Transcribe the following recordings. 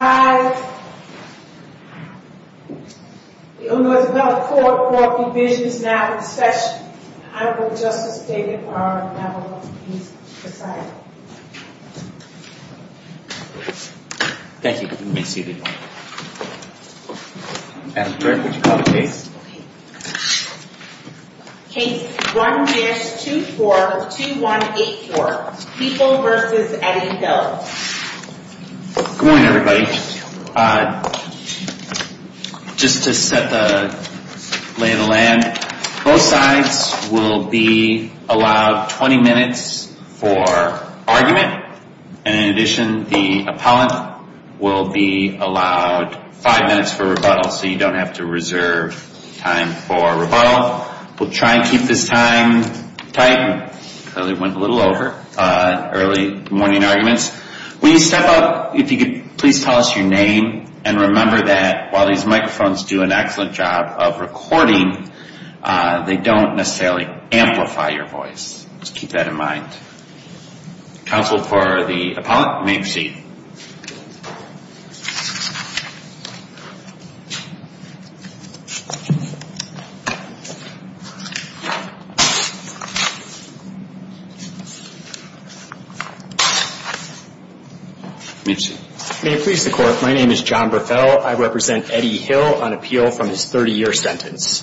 Hi. It was not a court for divisions. Now it's special. I don't know. Justice David R. Thank you. That's great. Hey, one, two, four, two, one, eight, four people versus Eddie. Good morning, everybody. Just to set the lay of the land, both sides will be allowed 20 minutes for argument. And in addition, the appellant will be allowed five minutes for rebuttal. So you don't have to reserve time for rebuttal. We'll try and keep this time tight. It went a little over. Early morning arguments. When you step up, if you could please tell us your name and remember that while these microphones do an excellent job of recording, they don't necessarily amplify your voice. Just keep that in mind. Counsel for the appellant, you may proceed. May it please the Court. My name is John Burfell. I represent Eddie Hill on appeal from his 30-year sentence.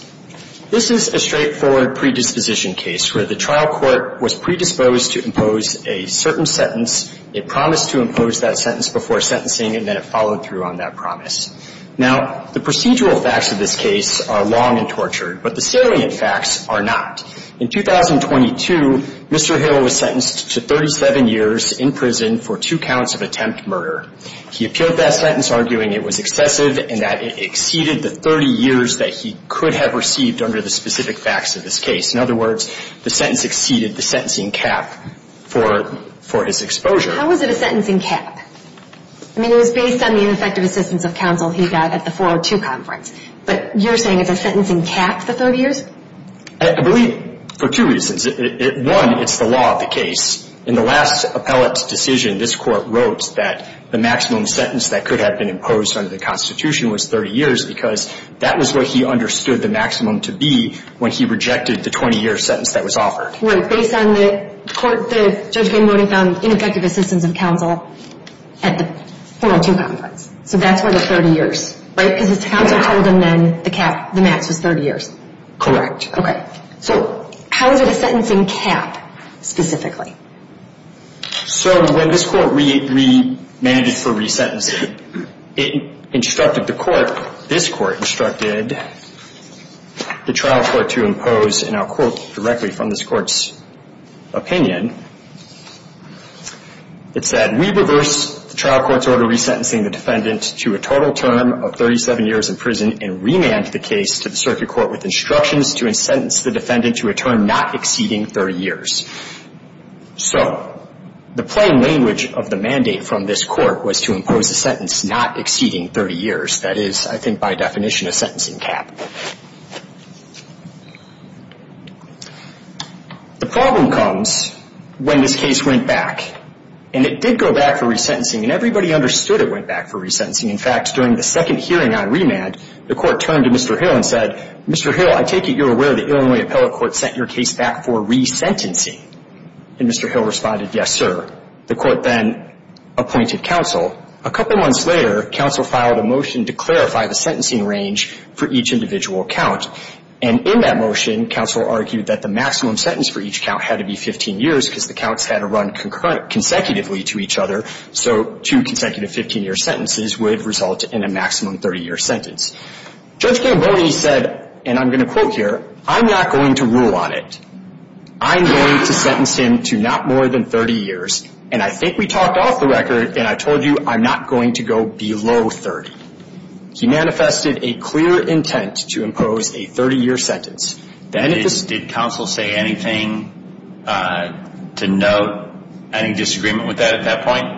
This is a straightforward predisposition case where the trial court was predisposed to impose a certain sentence. It promised to impose that sentence before sentencing, and then it followed through on that promise. Now, the procedural facts of this case are long and tortured, but the salient facts are not. In 2022, Mr. Hill was sentenced to 37 years in prison for two counts of attempt murder. He appealed that sentence arguing it was excessive and that it exceeded the 30 years that he could have received under the specific facts of this case. In other words, the sentence exceeded the sentencing cap for his exposure. How is it a sentencing cap? I mean, it was based on the ineffective assistance of counsel he got at the 402 conference, but you're saying it's a sentencing cap, the 30 years? I believe for two reasons. One, it's the law of the case. In the last appellate's decision, this Court wrote that the maximum sentence that could have been imposed under the Constitution was 30 years because that was what he understood the maximum to be when he rejected the 20-year sentence that was offered. Right. Based on the court, the judge found ineffective assistance of counsel at the 402 conference. So that's where the 30 years, right? Because his counsel told him then the cap, the max, was 30 years. Correct. Okay. So how is it a sentencing cap, specifically? So when this Court re-mandated for resentencing, it instructed the Court, this Court instructed the trial court to impose, and I'll quote directly from this Court's opinion, it said, So the plain language of the mandate from this Court was to impose a sentence not exceeding 30 years. That is, I think by definition, a sentencing cap. The problem comes when this case went back. And it did go back for resentencing, and everybody understood it went back for resentencing. In fact, during the second hearing on remand, the Court turned to Mr. Hill and said, And Mr. Hill responded, yes, sir. The Court then appointed counsel. A couple months later, counsel filed a motion to clarify the sentencing range for each individual count. And in that motion, counsel argued that the maximum sentence for each count had to be 15 years because the counts had to run consecutively to each other. So two consecutive 15-year sentences would result in a maximum 30-year sentence. Judge Gamboni said, and I'm going to quote here, I'm not going to rule on it. I'm going to sentence him to not more than 30 years. And I think we talked off the record, and I told you I'm not going to go below 30. He manifested a clear intent to impose a 30-year sentence. And counsel, at that hearing, the new resentencing hearing, did counsel say anything to note any disagreement with that at that point?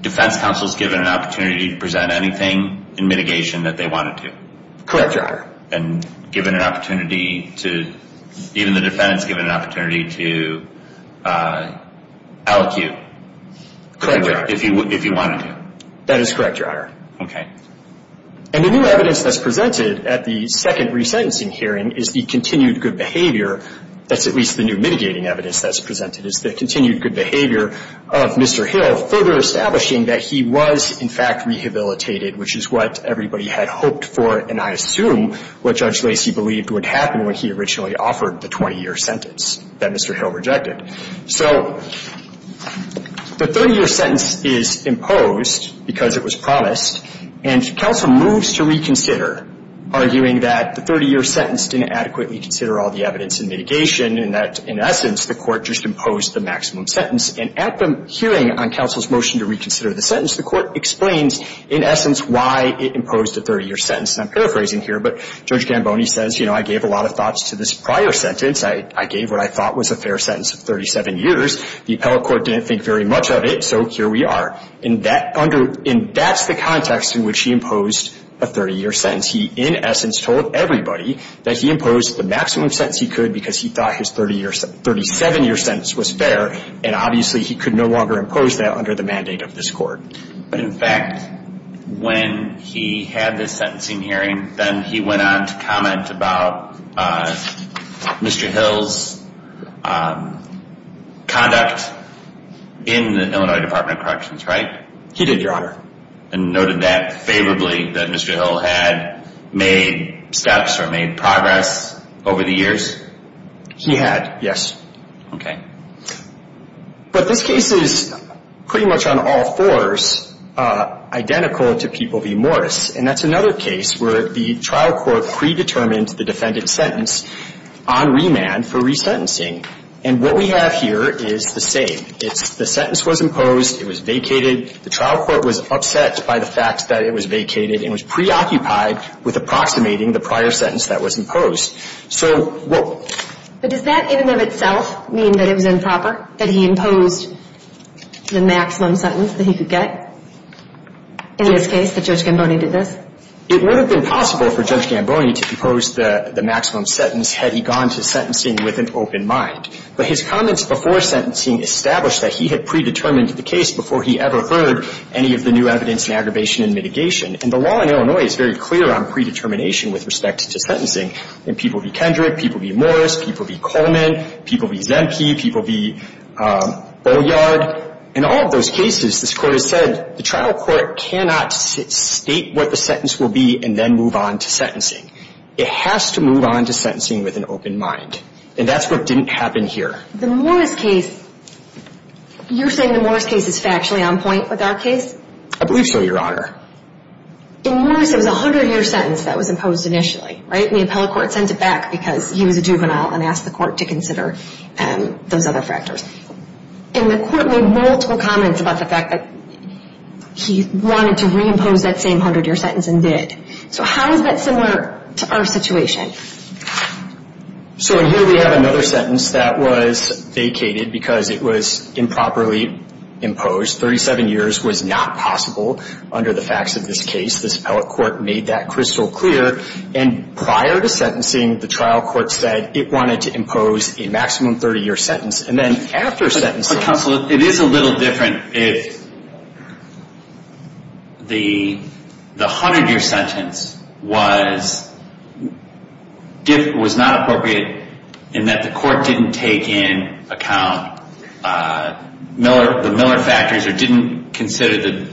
Defense counsel is given an opportunity to present anything in mitigation that they wanted to. Correct, Your Honor. And given an opportunity to, even the defendant is given an opportunity to allocute. Correct, Your Honor. If you wanted to. That is correct, Your Honor. Okay. And the new evidence that's presented at the second resentencing hearing is the continued good behavior, that's at least the new mitigating evidence that's presented, is the continued good behavior of Mr. Hill further establishing that he was, in fact, rehabilitated, which is what everybody had hoped for, and I assume what Judge Lacey believed would happen when he originally offered the 20-year sentence that Mr. Hill rejected. So the 30-year sentence is imposed because it was promised, and counsel moves to reconsider, arguing that the 30-year sentence didn't adequately consider all the evidence in mitigation, and that, in essence, the court just imposed the maximum sentence. And at the hearing on counsel's motion to reconsider the sentence, the court explains, in essence, why it imposed a 30-year sentence. And I'm paraphrasing here, but Judge Gamboni says, you know, I gave a lot of thoughts to this prior sentence. I gave what I thought was a fair sentence of 37 years. The appellate court didn't think very much of it, so here we are. And that's the context in which he imposed a 30-year sentence. He, in essence, told everybody that he imposed the maximum sentence he could because he thought his 37-year sentence was fair, and obviously he could no longer impose that under the mandate of this court. But in fact, when he had this sentencing hearing, then he went on to comment about Mr. Hill's conduct in the Illinois Department of Corrections, right? He did, Your Honor. And noted that favorably, that Mr. Hill had made steps or made progress over the years? He had, yes. Okay. But this case is pretty much on all fours identical to People v. Morris. And that's another case where the trial court predetermined the defendant's sentence on remand for resentencing. And what we have here is the same. It's the sentence was imposed. It was vacated. The trial court was upset by the fact that it was vacated and was preoccupied with approximating the prior sentence that was imposed. But does that in and of itself mean that it was improper, that he imposed the maximum sentence that he could get in this case, that Judge Gamboni did this? It would have been possible for Judge Gamboni to impose the maximum sentence had he gone to sentencing with an open mind. But his comments before sentencing established that he had predetermined the case before he ever heard any of the new evidence in aggravation and mitigation. And the law in Illinois is very clear on predetermination with respect to sentencing. In People v. Kendrick, People v. Morris, People v. Coleman, People v. Zemke, People v. Bolliard. In all of those cases, this Court has said the trial court cannot state what the sentence will be and then move on to sentencing. It has to move on to sentencing with an open mind. And that's what didn't happen here. The Morris case, you're saying the Morris case is factually on point with our case? I believe so, Your Honor. In Morris, it was a 100-year sentence that was imposed initially, right? And the appellate court sent it back because he was a juvenile and asked the court to consider those other factors. And the court made multiple comments about the fact that he wanted to reimpose that same 100-year sentence and did. So how is that similar to our situation? So here we have another sentence that was vacated because it was improperly imposed. 37 years was not possible under the facts of this case. This appellate court made that crystal clear. And prior to sentencing, the trial court said it wanted to impose a maximum 30-year sentence. But counsel, it is a little different if the 100-year sentence was not appropriate in that the court didn't take in account the Miller factors or didn't consider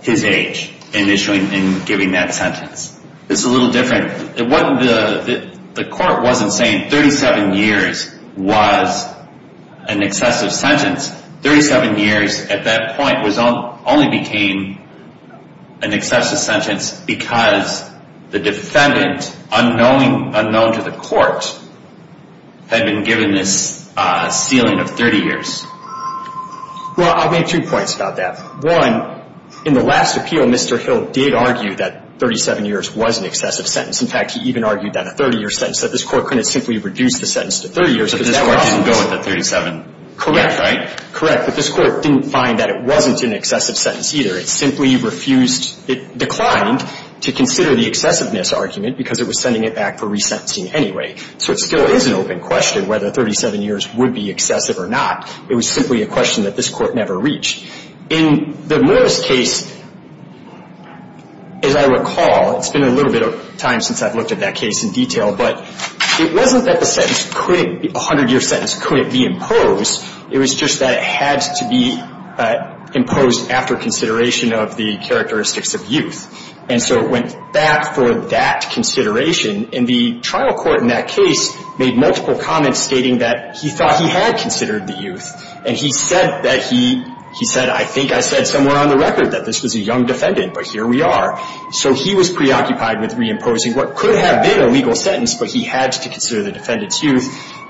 his age in issuing and giving that sentence. It's a little different. The court wasn't saying 37 years was an excessive sentence. 37 years at that point only became an excessive sentence because the defendant, unknown to the court, had been given this ceiling of 30 years. Well, I'll make two points about that. One, in the last appeal, Mr. Hill did argue that 37 years was an excessive sentence. In fact, he even argued that a 30-year sentence, that this court couldn't simply reduce the sentence to 30 years. But this court didn't go with the 37 years, right? But this court didn't find that it wasn't an excessive sentence either. It simply refused, it declined to consider the excessiveness argument because it was sending it back for resentencing anyway. So it still is an open question whether 37 years would be excessive or not. It was simply a question that this court never reached. In the Miller's case, as I recall, it's been a little bit of time since I've looked at that case in detail, but it wasn't that the sentence couldn't be, a 100-year sentence couldn't be imposed. It was just that it had to be imposed after consideration of the characteristics of youth. And so it went back for that consideration. And the trial court in that case made multiple comments stating that he thought he had considered the youth. And he said that he, he said, I think I said somewhere on the record that this was a young defendant, but here we are. So he was preoccupied with reimposing what could have been a legal sentence, but he had to consider the defendant's youth.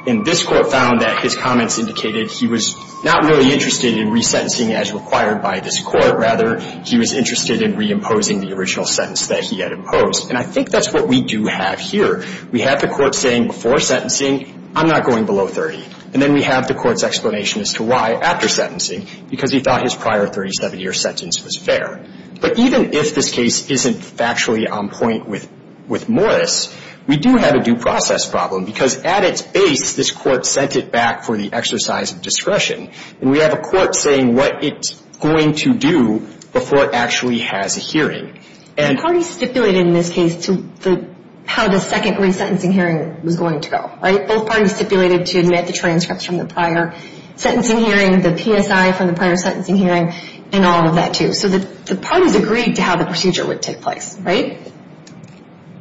And this court found that his comments indicated he was not really interested in resentencing as required by this court. Rather, he was interested in reimposing the original sentence that he had imposed. And I think that's what we do have here. We have the court saying before sentencing, I'm not going below 30. And then we have the court's explanation as to why after sentencing, because he thought his prior 37-year sentence was fair. But even if this case isn't factually on point with Morris, we do have a due process problem, because at its base, this court sent it back for the exercise of discretion. And we have a court saying what it's going to do before it actually has a hearing. And the parties stipulated in this case how the second resentencing hearing was going to go, right? Both parties stipulated to admit the transcripts from the prior sentencing hearing, the PSI from the prior sentencing hearing, and all of that, too. So the parties agreed to how the procedure would take place, right?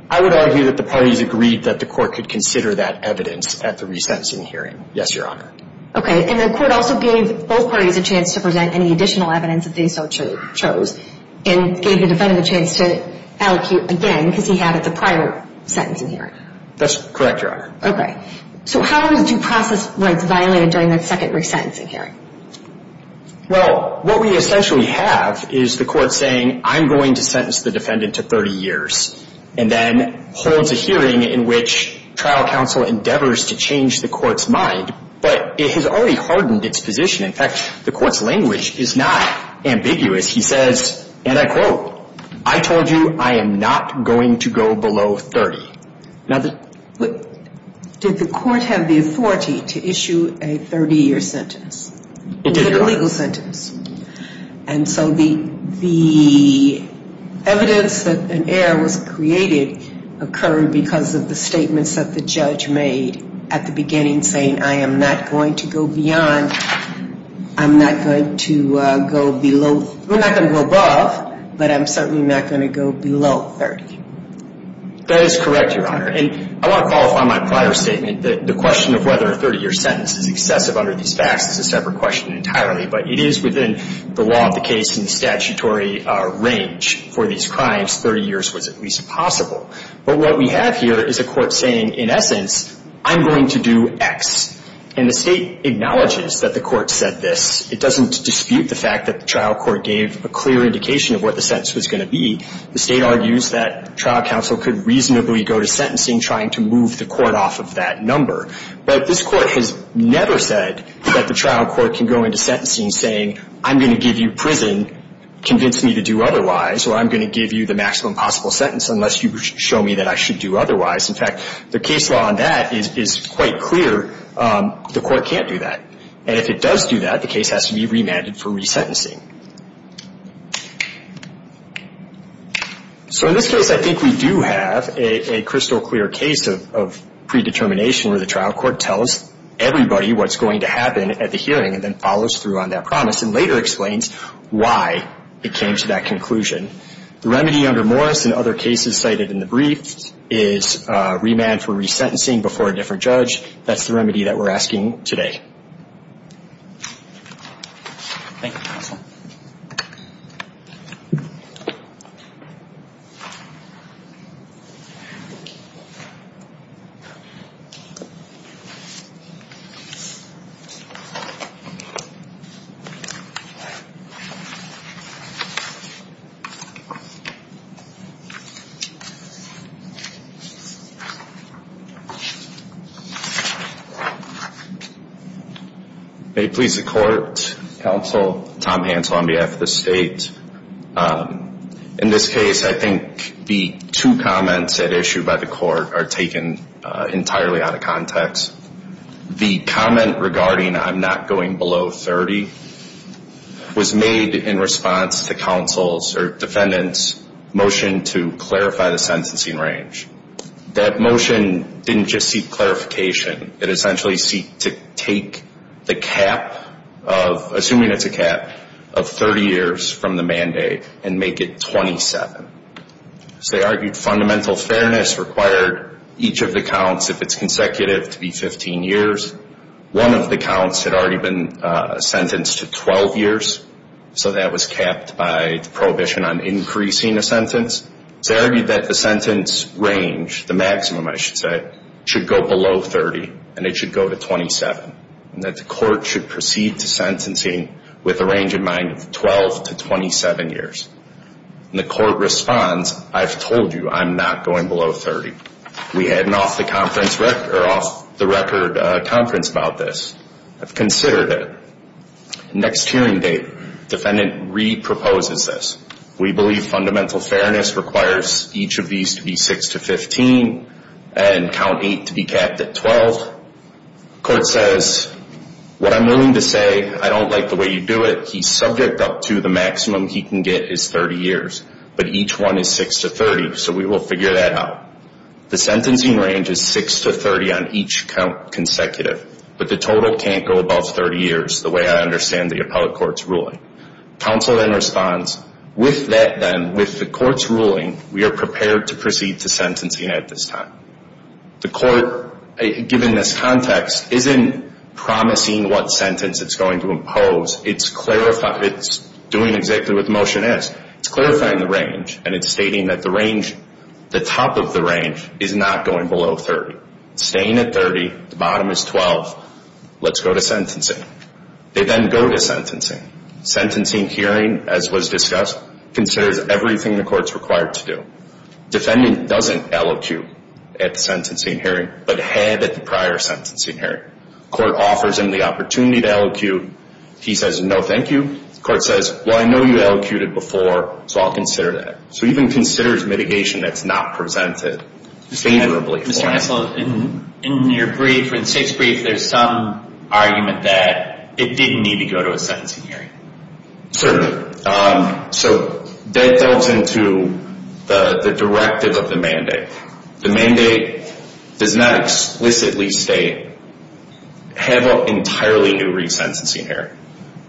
I would argue that the parties agreed that the court could consider that evidence at the resentencing hearing. Yes, Your Honor. Okay. And the court also gave both parties a chance to present any additional evidence that they so chose and gave the defendant a chance to allocate again because he had it the prior sentencing hearing. That's correct, Your Honor. Okay. So how are the due process rights violated during that second resentencing hearing? Well, what we essentially have is the court saying I'm going to sentence the defendant to 30 years and then holds a hearing in which trial counsel endeavors to change the court's mind. But it has already hardened its position. In fact, the court's language is not ambiguous. He says, and I quote, I told you I am not going to go below 30. Did the court have the authority to issue a 30-year sentence? It did, Your Honor. It was a legal sentence. And so the evidence that an error was created occurred because of the statements that the judge made at the beginning saying I am not going to go beyond, I'm not going to go below, we're not going to go above, but I'm certainly not going to go below 30. That is correct, Your Honor. And I want to qualify my prior statement that the question of whether a 30-year sentence is excessive under these facts is a separate question entirely, but it is within the law of the case and the statutory range for these crimes, 30 years was at least possible. But what we have here is a court saying, in essence, I'm going to do X. And the state acknowledges that the court said this. It doesn't dispute the fact that the trial court gave a clear indication of what the sentence was going to be. The state argues that trial counsel could reasonably go to sentencing trying to move the court off of that number. But this court has never said that the trial court can go into sentencing saying, I'm going to give you prison, convince me to do otherwise, or I'm going to give you the maximum possible sentence unless you show me that I should do otherwise. In fact, the case law on that is quite clear. The court can't do that. And if it does do that, the case has to be remanded for resentencing. So in this case, I think we do have a crystal clear case of predetermination where the trial court tells everybody what's going to happen at the hearing and then follows through on that promise and later explains why it came to that conclusion. The remedy under Morris and other cases cited in the brief is remand for resentencing before a different judge. That's the remedy that we're asking today. Thank you. May it please the court, counsel, Tom Hansel on behalf of the state. In this case, I think the two comments at issue by the court are taken entirely out of context. The comment regarding I'm not going below 30 was made in response to counsel's or defendant's motion to clarify the sentencing range. That motion didn't just seek clarification. It essentially seeked to take the cap of, assuming it's a cap, of 30 years from the mandate and make it 27. So they argued fundamental fairness required each of the counts, if it's consecutive, to be 15 years. One of the counts had already been sentenced to 12 years, so that was capped by the prohibition on increasing a sentence. So they argued that the sentence range, the maximum I should say, should go below 30 and it should go to 27 and that the court should proceed to sentencing with a range in mind of 12 to 27 years. And the court responds, I've told you I'm not going below 30. We had an off-the-record conference about this. I've considered it. Next hearing date, defendant re-proposes this. We believe fundamental fairness requires each of these to be 6 to 15 and count 8 to be capped at 12. Court says, what I'm willing to say, I don't like the way you do it. He's subject up to the maximum he can get is 30 years, but each one is 6 to 30, so we will figure that out. The sentencing range is 6 to 30 on each count consecutive, but the total can't go above 30 years the way I understand the appellate court's ruling. Counsel then responds, with that then, with the court's ruling, we are prepared to proceed to sentencing at this time. The court, given this context, isn't promising what sentence it's going to impose. It's doing exactly what the motion is. It's clarifying the range, and it's stating that the range, the top of the range, is not going below 30. It's staying at 30. The bottom is 12. Let's go to sentencing. They then go to sentencing. Sentencing hearing, as was discussed, considers everything the court's required to do. Defendant doesn't LOQ at the sentencing hearing, but had at the prior sentencing hearing. Court offers him the opportunity to LOQ. He says, no, thank you. Court says, well, I know you LOQ'd it before, so I'll consider that. So even considers mitigation that's not presented favorably for him. Counsel, in your brief, in State's brief, there's some argument that it didn't need to go to a sentencing hearing. Certainly. So that delves into the directive of the mandate. The mandate does not explicitly state, have an entirely new resentencing hearing.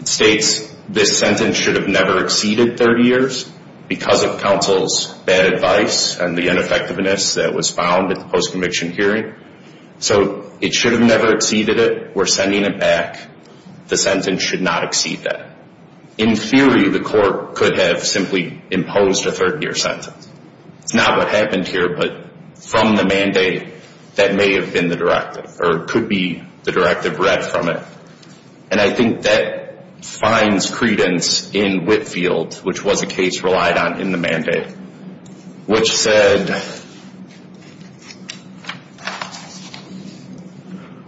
It states this sentence should have never exceeded 30 years because of counsel's bad advice and the ineffectiveness that was found at the post-conviction hearing. So it should have never exceeded it. We're sending it back. The sentence should not exceed that. In theory, the court could have simply imposed a 30-year sentence. It's not what happened here, but from the mandate, that may have been the directive, or could be the directive read from it. And I think that finds credence in Whitfield, which was a case relied on in the mandate, which said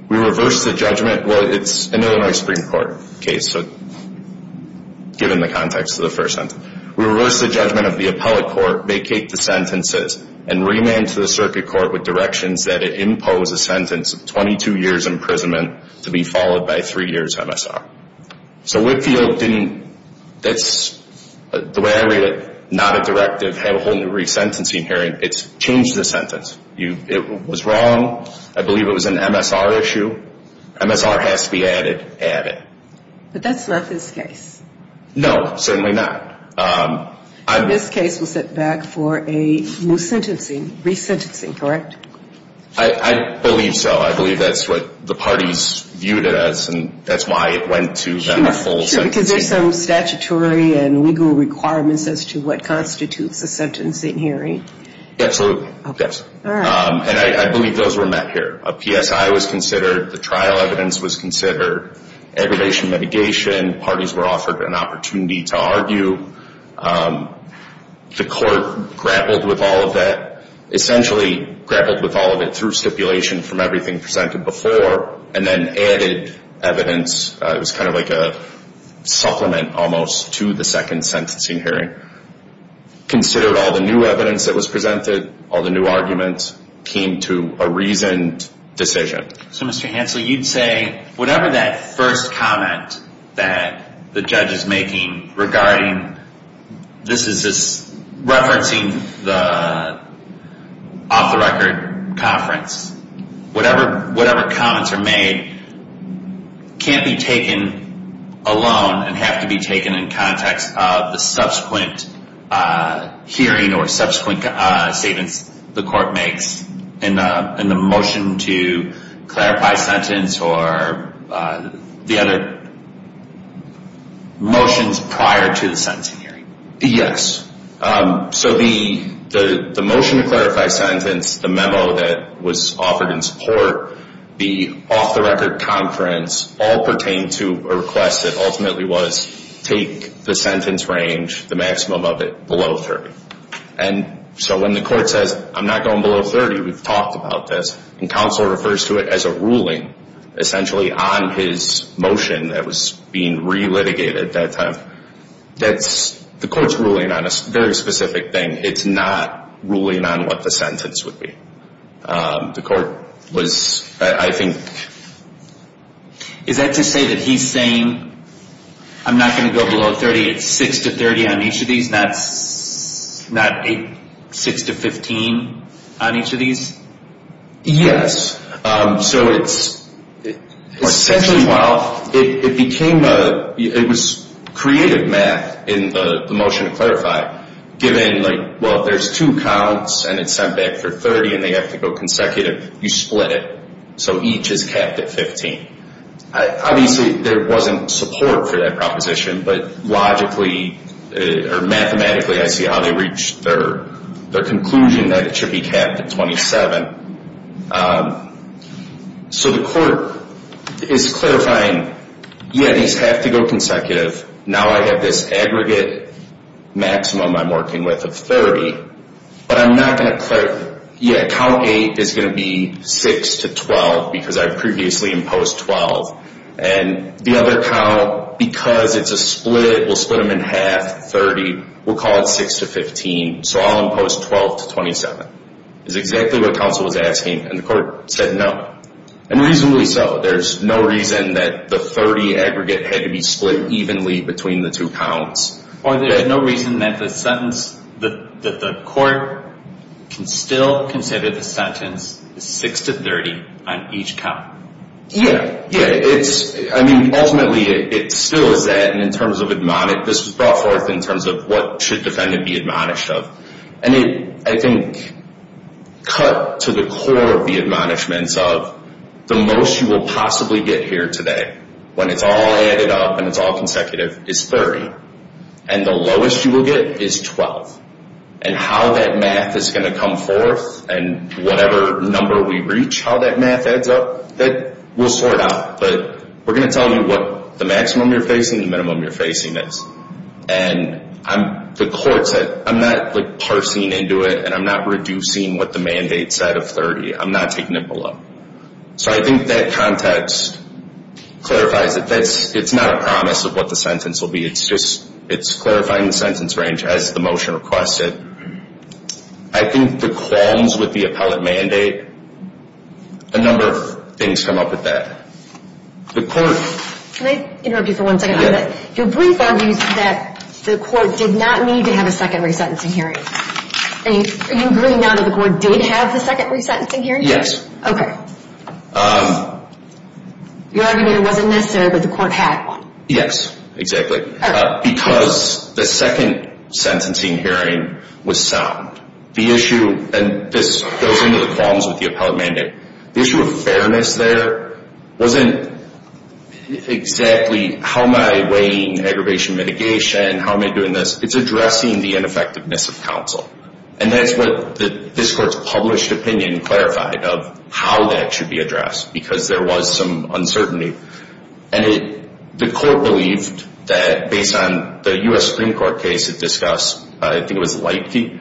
we reverse the judgment. Well, it's an Illinois Supreme Court case, so given the context of the first sentence. We reverse the judgment of the appellate court, vacate the sentences, and remand to the circuit court with directions that it impose a sentence of 22 years' imprisonment to be followed by three years' MSR. So Whitfield didn't, the way I read it, not a directive, have a whole new resentencing hearing. It's changed the sentence. It was wrong. I believe it was an MSR issue. MSR has to be added. Add it. But that's not this case. No, certainly not. This case was set back for a new sentencing, resentencing, correct? I believe so. I believe that's what the parties viewed it as, and that's why it went to a full sentencing. Because there's some statutory and legal requirements as to what constitutes a sentencing hearing. Absolutely. And I believe those were met here. A PSI was considered. The trial evidence was considered. Aggravation mitigation. Parties were offered an opportunity to argue. The court grappled with all of that. Essentially grappled with all of it through stipulation from everything presented before, and then added evidence. It was kind of like a supplement, almost, to the second sentencing hearing. Considered all the new evidence that was presented. All the new arguments. Came to a reasoned decision. So, Mr. Hansel, you'd say whatever that first comment that the judge is making regarding, this is referencing the off-the-record conference, whatever comments are made can't be taken alone and have to be taken in context of the subsequent hearing or subsequent statements the court makes in the motion to clarify sentence or the other motions prior to the sentencing hearing. Yes. So the motion to clarify sentence, the memo that was offered in support, the off-the-record conference all pertain to a request that ultimately was, take the sentence range, the maximum of it, below 30. And so when the court says, I'm not going below 30, we've talked about this, and counsel refers to it as a ruling, essentially, on his motion that was being re-litigated at that time. The court's ruling on a very specific thing. It's not ruling on what the sentence would be. The court was, I think. Is that to say that he's saying, I'm not going to go below 30, it's 6 to 30 on each of these, not 6 to 15 on each of these? Yes. So it's essentially, well, it became a, it was creative math in the motion to clarify, given like, well, there's two counts and it's sent back for 30 and they have to go consecutive, you split it so each is capped at 15. Obviously, there wasn't support for that proposition, but logically, or mathematically, I see how they reached their conclusion that it should be capped at 27. So the court is clarifying, yeah, these have to go consecutive, now I have this aggregate maximum I'm working with of 30, but I'm not going to, yeah, count 8 is going to be 6 to 12 because I previously imposed 12. And the other count, because it's a split, we'll split them in half, 30, we'll call it 6 to 15, so I'll impose 12 to 27. It's exactly what counsel was asking, and the court said no. And reasonably so, there's no reason that the 30 aggregate had to be split evenly between the two counts. Or there's no reason that the sentence, that the court can still consider the sentence 6 to 30 on each count. Yeah, yeah, it's, I mean, ultimately it still is that, and in terms of admonit, this was brought forth in terms of what should defendant be admonished of. And it, I think, cut to the core of the admonishments of the most you will possibly get here today, when it's all added up and it's all consecutive, is 30. And the lowest you will get is 12. And how that math is going to come forth and whatever number we reach, how that math adds up, that we'll sort out. But we're going to tell you what the maximum you're facing, the minimum you're facing is. And the court said, I'm not, like, parsing into it, and I'm not reducing what the mandate said of 30. I'm not taking it below. So I think that context clarifies it. It's not a promise of what the sentence will be. It's just, it's clarifying the sentence range, as the motion requested. I think the qualms with the appellate mandate, a number of things come up with that. The court. Can I interrupt you for one second on that? Yeah. Your brief argues that the court did not need to have a secondary sentencing hearing. Are you agreeing now that the court did have the secondary sentencing hearing? Yes. Okay. Your argument wasn't necessary, but the court had one. Yes. Exactly. Because the second sentencing hearing was sound. The issue, and this goes into the qualms with the appellate mandate, the issue of fairness there wasn't exactly, how am I weighing aggravation mitigation, how am I doing this? It's addressing the ineffectiveness of counsel. And that's what this court's published opinion clarified, of how that should be addressed, because there was some uncertainty. And the court believed that, based on the U.S. Supreme Court case it discussed, I think it was Leipzig,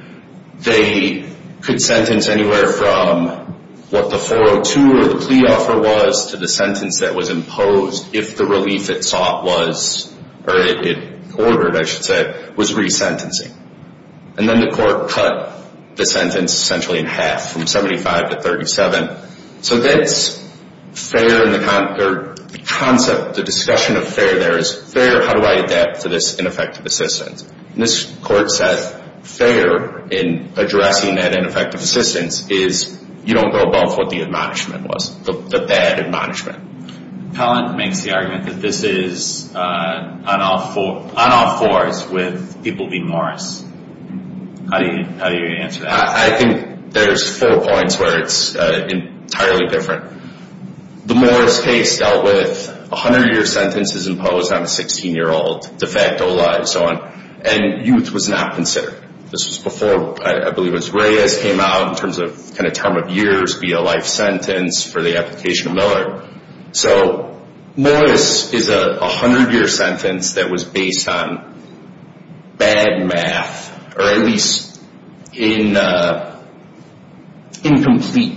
they could sentence anywhere from what the 402 or the plea offer was to the sentence that was imposed, if the relief it sought was, or it ordered, I should say, was resentencing. And then the court cut the sentence essentially in half, from 75 to 37. So that's fair in the concept, the discussion of fair there is, fair, how do I adapt to this ineffective assistance? And this court said, fair in addressing that ineffective assistance is, you don't go above what the admonishment was, the bad admonishment. Pellant makes the argument that this is on all fours with people being Morris. How do you answer that? I think there's four points where it's entirely different. The Morris case dealt with 100-year sentences imposed on a 16-year-old, de facto life, and so on, and youth was not considered. This was before, I believe it was Reyes came out, in terms of term of years, be a life sentence for the application of Miller. So Morris is a 100-year sentence that was based on bad math, or at least incomplete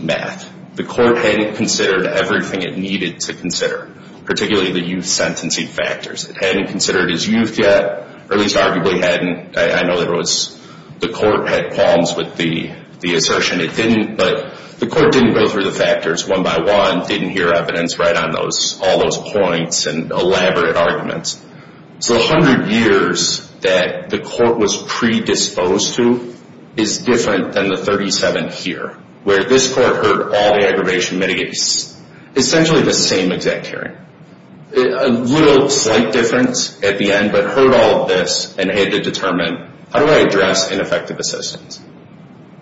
math. The court hadn't considered everything it needed to consider, particularly the youth sentencing factors. It hadn't considered his youth yet, or at least arguably hadn't. I know the court had qualms with the assertion it didn't, but the court didn't go through the factors one by one, didn't hear evidence right on all those points and elaborate arguments. So 100 years that the court was predisposed to is different than the 37 here, where this court heard all the aggravation mitigates, essentially the same exact hearing. A little slight difference at the end, but heard all of this and had to determine, how do I address ineffective assistance?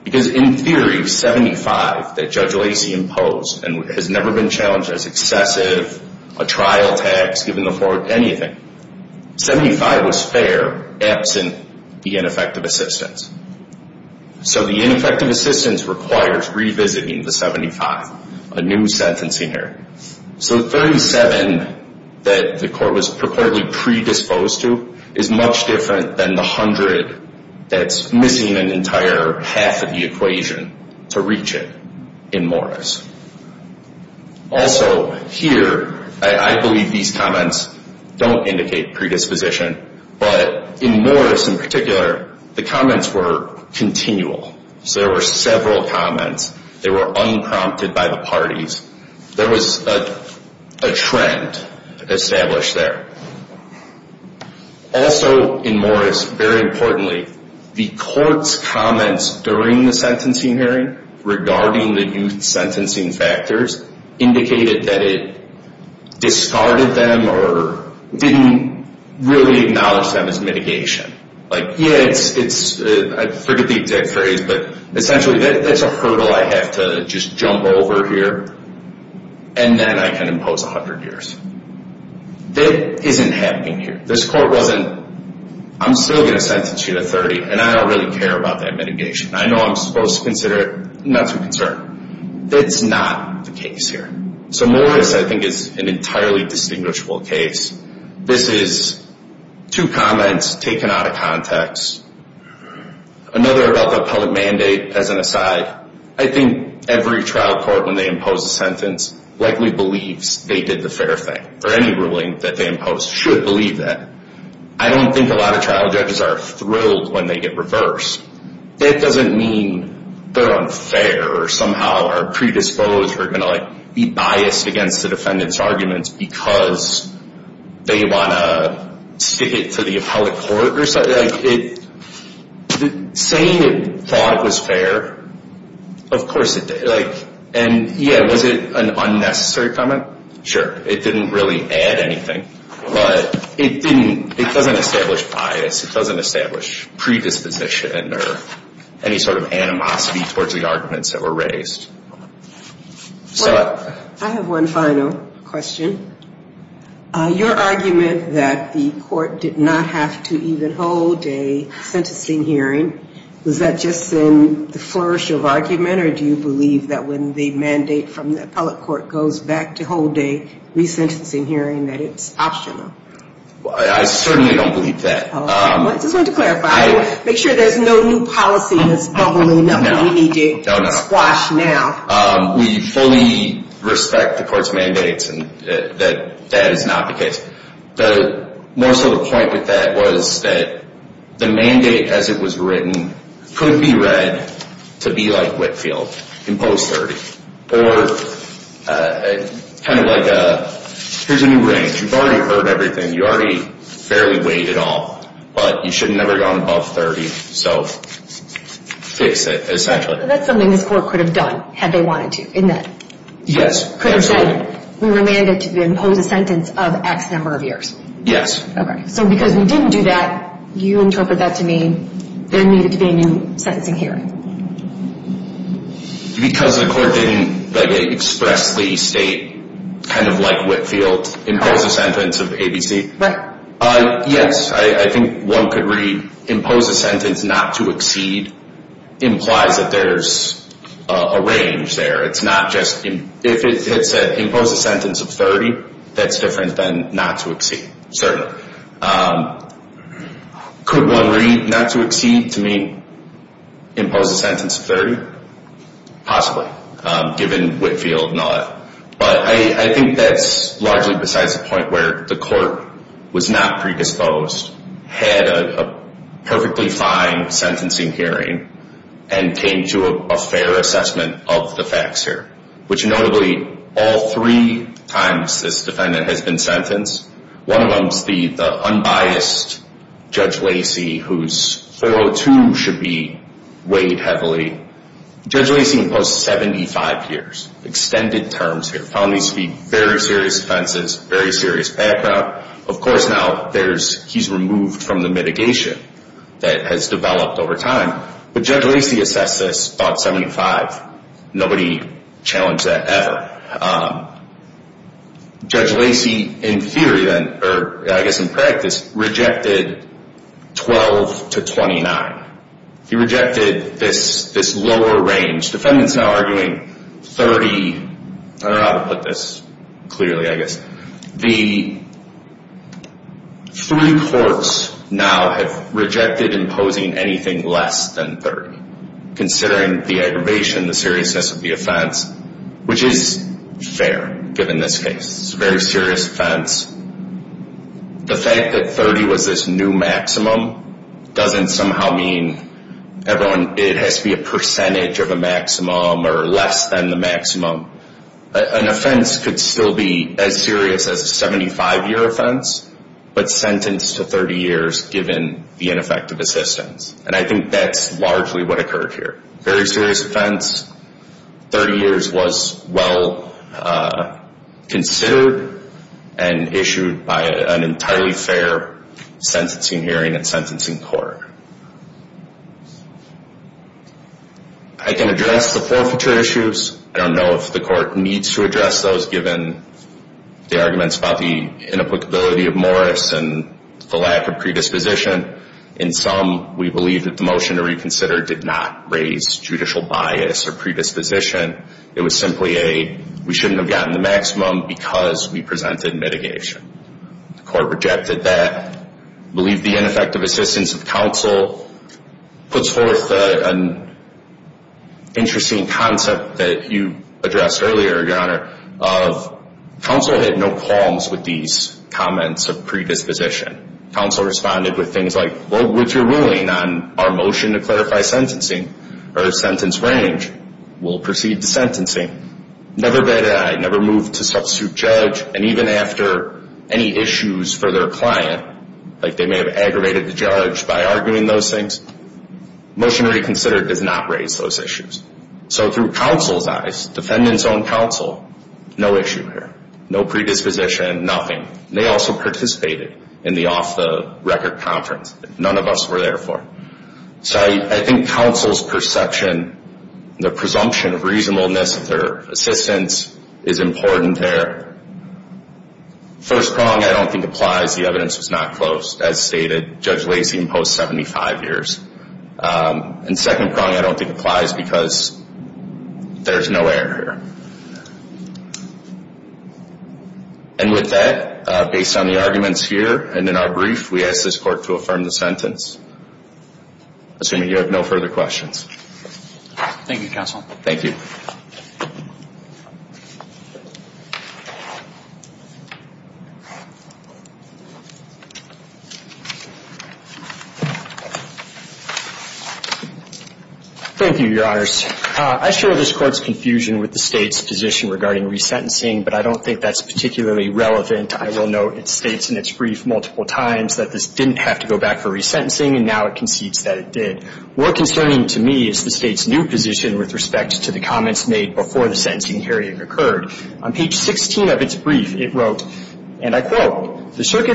Because in theory, 75 that Judge Lacey imposed, and has never been challenged as excessive, a trial tax, giving the court anything. 75 was fair, absent the ineffective assistance. So the ineffective assistance requires revisiting the 75, a new sentencing error. So 37 that the court was purportedly predisposed to is much different than the 100 that's missing an entire half of the equation to reach it in Morris. Also here, I believe these comments don't indicate predisposition, but in Morris in particular, the comments were continual. So there were several comments. They were unprompted by the parties. There was a trend established there. Also in Morris, very importantly, the court's comments during the sentencing hearing regarding the youth sentencing factors indicated that it discarded them or didn't really acknowledge them as mitigation. Like, yeah, I forget the exact phrase, but essentially that's a hurdle I have to just jump over here. And then I can impose 100 years. That isn't happening here. This court wasn't, I'm still going to sentence you to 30, and I don't really care about that mitigation. I know I'm supposed to consider it not to concern. That's not the case here. So Morris, I think, is an entirely distinguishable case. This is two comments taken out of context. Another about the public mandate as an aside. I think every trial court, when they impose a sentence, likely believes they did the fair thing or any ruling that they impose should believe that. I don't think a lot of trial judges are thrilled when they get reversed. That doesn't mean they're unfair or somehow are predisposed or going to, like, be biased against the defendant's arguments because they want to stick it to the appellate court. Saying it thought it was fair, of course it did. And, yeah, was it an unnecessary comment? Sure. It didn't really add anything. But it doesn't establish bias. It doesn't establish predisposition or any sort of animosity towards the arguments that were raised. I have one final question. Your argument that the court did not have to even hold a sentencing hearing, was that just in the flourish of argument, or do you believe that when the mandate from the appellate court goes back to hold a resentencing hearing, that it's optional? I certainly don't believe that. I just wanted to clarify. Make sure there's no new policy that's bubbling up that we need to squash now. We fully respect the court's mandates and that that is not the case. More so the point with that was that the mandate as it was written could be read to be like Whitfield, imposed 30, or kind of like a, here's a new range. You've already heard everything. You already fairly weighed it all. But you should never have gone above 30. So fix it, essentially. That's something this court could have done had they wanted to, isn't it? Yes. Could have said we were mandated to impose a sentence of X number of years. Yes. So because we didn't do that, you interpret that to mean there needed to be a new sentencing hearing. Because the court didn't expressly state kind of like Whitfield, impose a sentence of ABC. Right. Yes. I think one could read impose a sentence not to exceed implies that there's a range there. It's not just if it said impose a sentence of 30, that's different than not to exceed, certainly. Could one read not to exceed to mean impose a sentence of 30? Possibly, given Whitfield and all that. But I think that's largely besides the point where the court was not predisposed, had a perfectly fine sentencing hearing, and came to a fair assessment of the facts here, which notably all three times this defendant has been sentenced, one of them is the unbiased Judge Lacey whose 402 should be weighed heavily. Judge Lacey imposed 75 years, extended terms here. Found these to be very serious offenses, very serious background. Of course now he's removed from the mitigation that has developed over time. But Judge Lacey assessed this about 75. Nobody challenged that ever. Judge Lacey in theory, or I guess in practice, rejected 12 to 29. He rejected this lower range. Defendants now are doing 30. I don't know how to put this clearly, I guess. The three courts now have rejected imposing anything less than 30, considering the aggravation, the seriousness of the offense, which is fair given this case. It's a very serious offense. The fact that 30 was this new maximum doesn't somehow mean it has to be a percentage of a maximum or less than the maximum. An offense could still be as serious as a 75-year offense, but sentenced to 30 years given the ineffective assistance. And I think that's largely what occurred here. Very serious offense. 30 years was well considered and issued by an entirely fair sentencing hearing and sentencing court. I can address the forfeiture issues. I don't know if the court needs to address those given the arguments about the inapplicability of Morris and the lack of predisposition. In sum, we believe that the motion to reconsider did not raise judicial bias or predisposition. It was simply a we shouldn't have gotten the maximum because we presented mitigation. The court rejected that. I believe the ineffective assistance of counsel puts forth an interesting concept that you addressed earlier, Your Honor, of counsel had no qualms with these comments of predisposition. Counsel responded with things like, vote with your ruling on our motion to clarify sentencing or sentence range. We'll proceed to sentencing. Never bad eyed. Never moved to substitute judge. And even after any issues for their client, like they may have aggravated the judge by arguing those things, motion to reconsider does not raise those issues. So through counsel's eyes, defendant's own counsel, no issue here. No predisposition, nothing. They also participated in the off-the-record conference that none of us were there for. So I think counsel's perception, the presumption of reasonableness of their assistance is important there. First prong I don't think applies. The evidence was not close, as stated. Judge Lacey imposed 75 years. And second prong I don't think applies because there's no error here. And with that, based on the arguments here and in our brief, we ask this court to affirm the sentence. Assuming you have no further questions. Thank you, counsel. Thank you. Thank you, Your Honors. I share this Court's confusion with the State's position regarding resentencing. But I don't think that's particularly relevant. I will note it states in its brief multiple times that this didn't have to go back for resentencing. And now it concedes that it did. More concerning to me is the State's new position with respect to the comments made before the sentencing hearing occurred. On page 16 of its brief, it wrote, and I quote, The State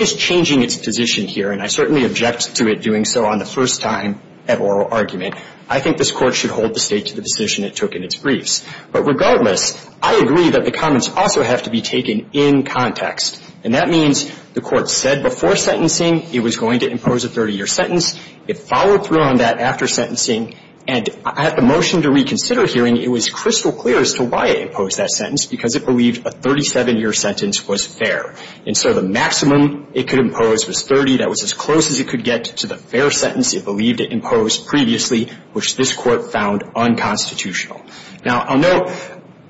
is changing its position here. And I certainly object to it doing so on the first time at oral argument. I think this Court should hold the State to the decision it took in its briefs. But regardless, I agree that the comments also have to be taken in context. And that means that the State should hold the State to the decision it took in its briefs. That means the Court said before sentencing it was going to impose a 30-year sentence. It followed through on that after sentencing. And at the motion to reconsider hearing, it was crystal clear as to why it imposed that sentence, because it believed a 37-year sentence was fair. And so the maximum it could impose was 30. That was as close as it could get to the fair sentence it believed it imposed previously, which this Court found unconstitutional. Now, I'll note,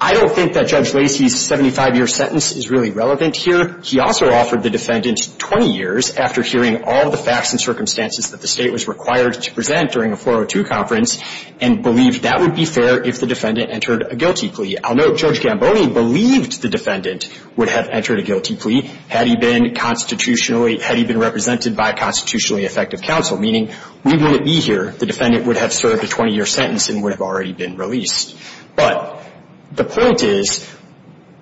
I don't think that Judge Lacey's 75-year sentence is really relevant here. He also offered the defendant 20 years after hearing all the facts and circumstances that the State was required to present during a 402 conference and believed that would be fair if the defendant entered a guilty plea. I'll note Judge Gamboni believed the defendant would have entered a guilty plea had he been constitutionally, had he been represented by a constitutionally effective counsel, meaning we wouldn't be here. The defendant would have served a 20-year sentence and would have already been released. But the point is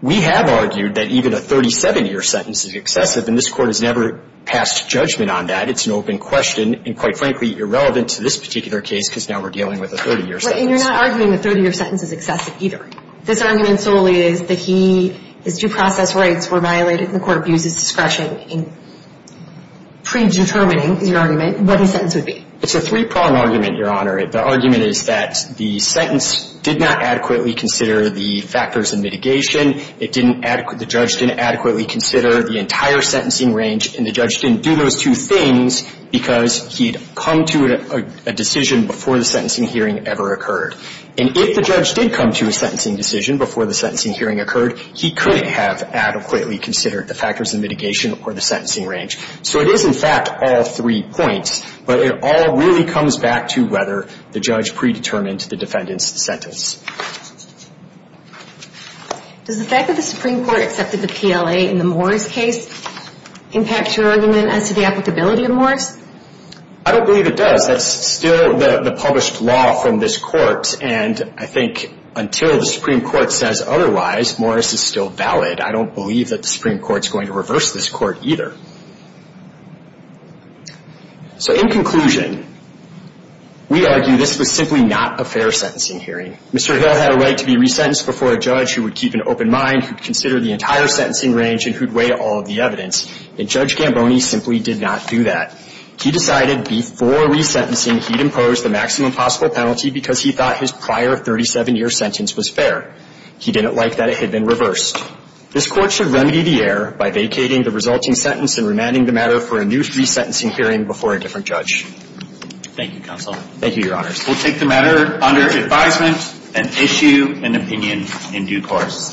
we have argued that even a 37-year sentence is excessive, and this Court has never passed judgment on that. It's an open question and, quite frankly, irrelevant to this particular case because now we're dealing with a 30-year sentence. And you're not arguing the 30-year sentence is excessive either. This argument solely is that he, his due process rights were violated and the Court abuses discretion in predetermining, is your argument, what his sentence would be. It's a three-prong argument, Your Honor. The argument is that the sentence did not adequately consider the factors of mitigation. It didn't adequately – the judge didn't adequately consider the entire sentencing range, and the judge didn't do those two things because he had come to a decision before the sentencing hearing ever occurred. And if the judge did come to a sentencing decision before the sentencing hearing occurred, he couldn't have adequately considered the factors of mitigation or the sentencing range. So it is, in fact, all three points, but it all really comes back to whether the judge predetermined the defendant's sentence. Does the fact that the Supreme Court accepted the PLA in the Morris case impact your argument as to the applicability of Morris? I don't believe it does. That's still the published law from this Court, and I think until the Supreme Court says otherwise, Morris is still valid. I don't believe that the Supreme Court is going to reverse this Court either. So in conclusion, we argue this was simply not a fair sentencing hearing. Mr. Hill had a right to be resentenced before a judge who would keep an open mind, who'd consider the entire sentencing range, and who'd weigh all of the evidence. And Judge Gamboni simply did not do that. He decided before resentencing he'd impose the maximum possible penalty because he thought his prior 37-year sentence was fair. He didn't like that it had been reversed. This Court should remedy the error by vacating the resulting sentence and remanding the matter for a new resentencing hearing before a different judge. Thank you, counsel. Thank you, Your Honors. We'll take the matter under advisement and issue an opinion in due course.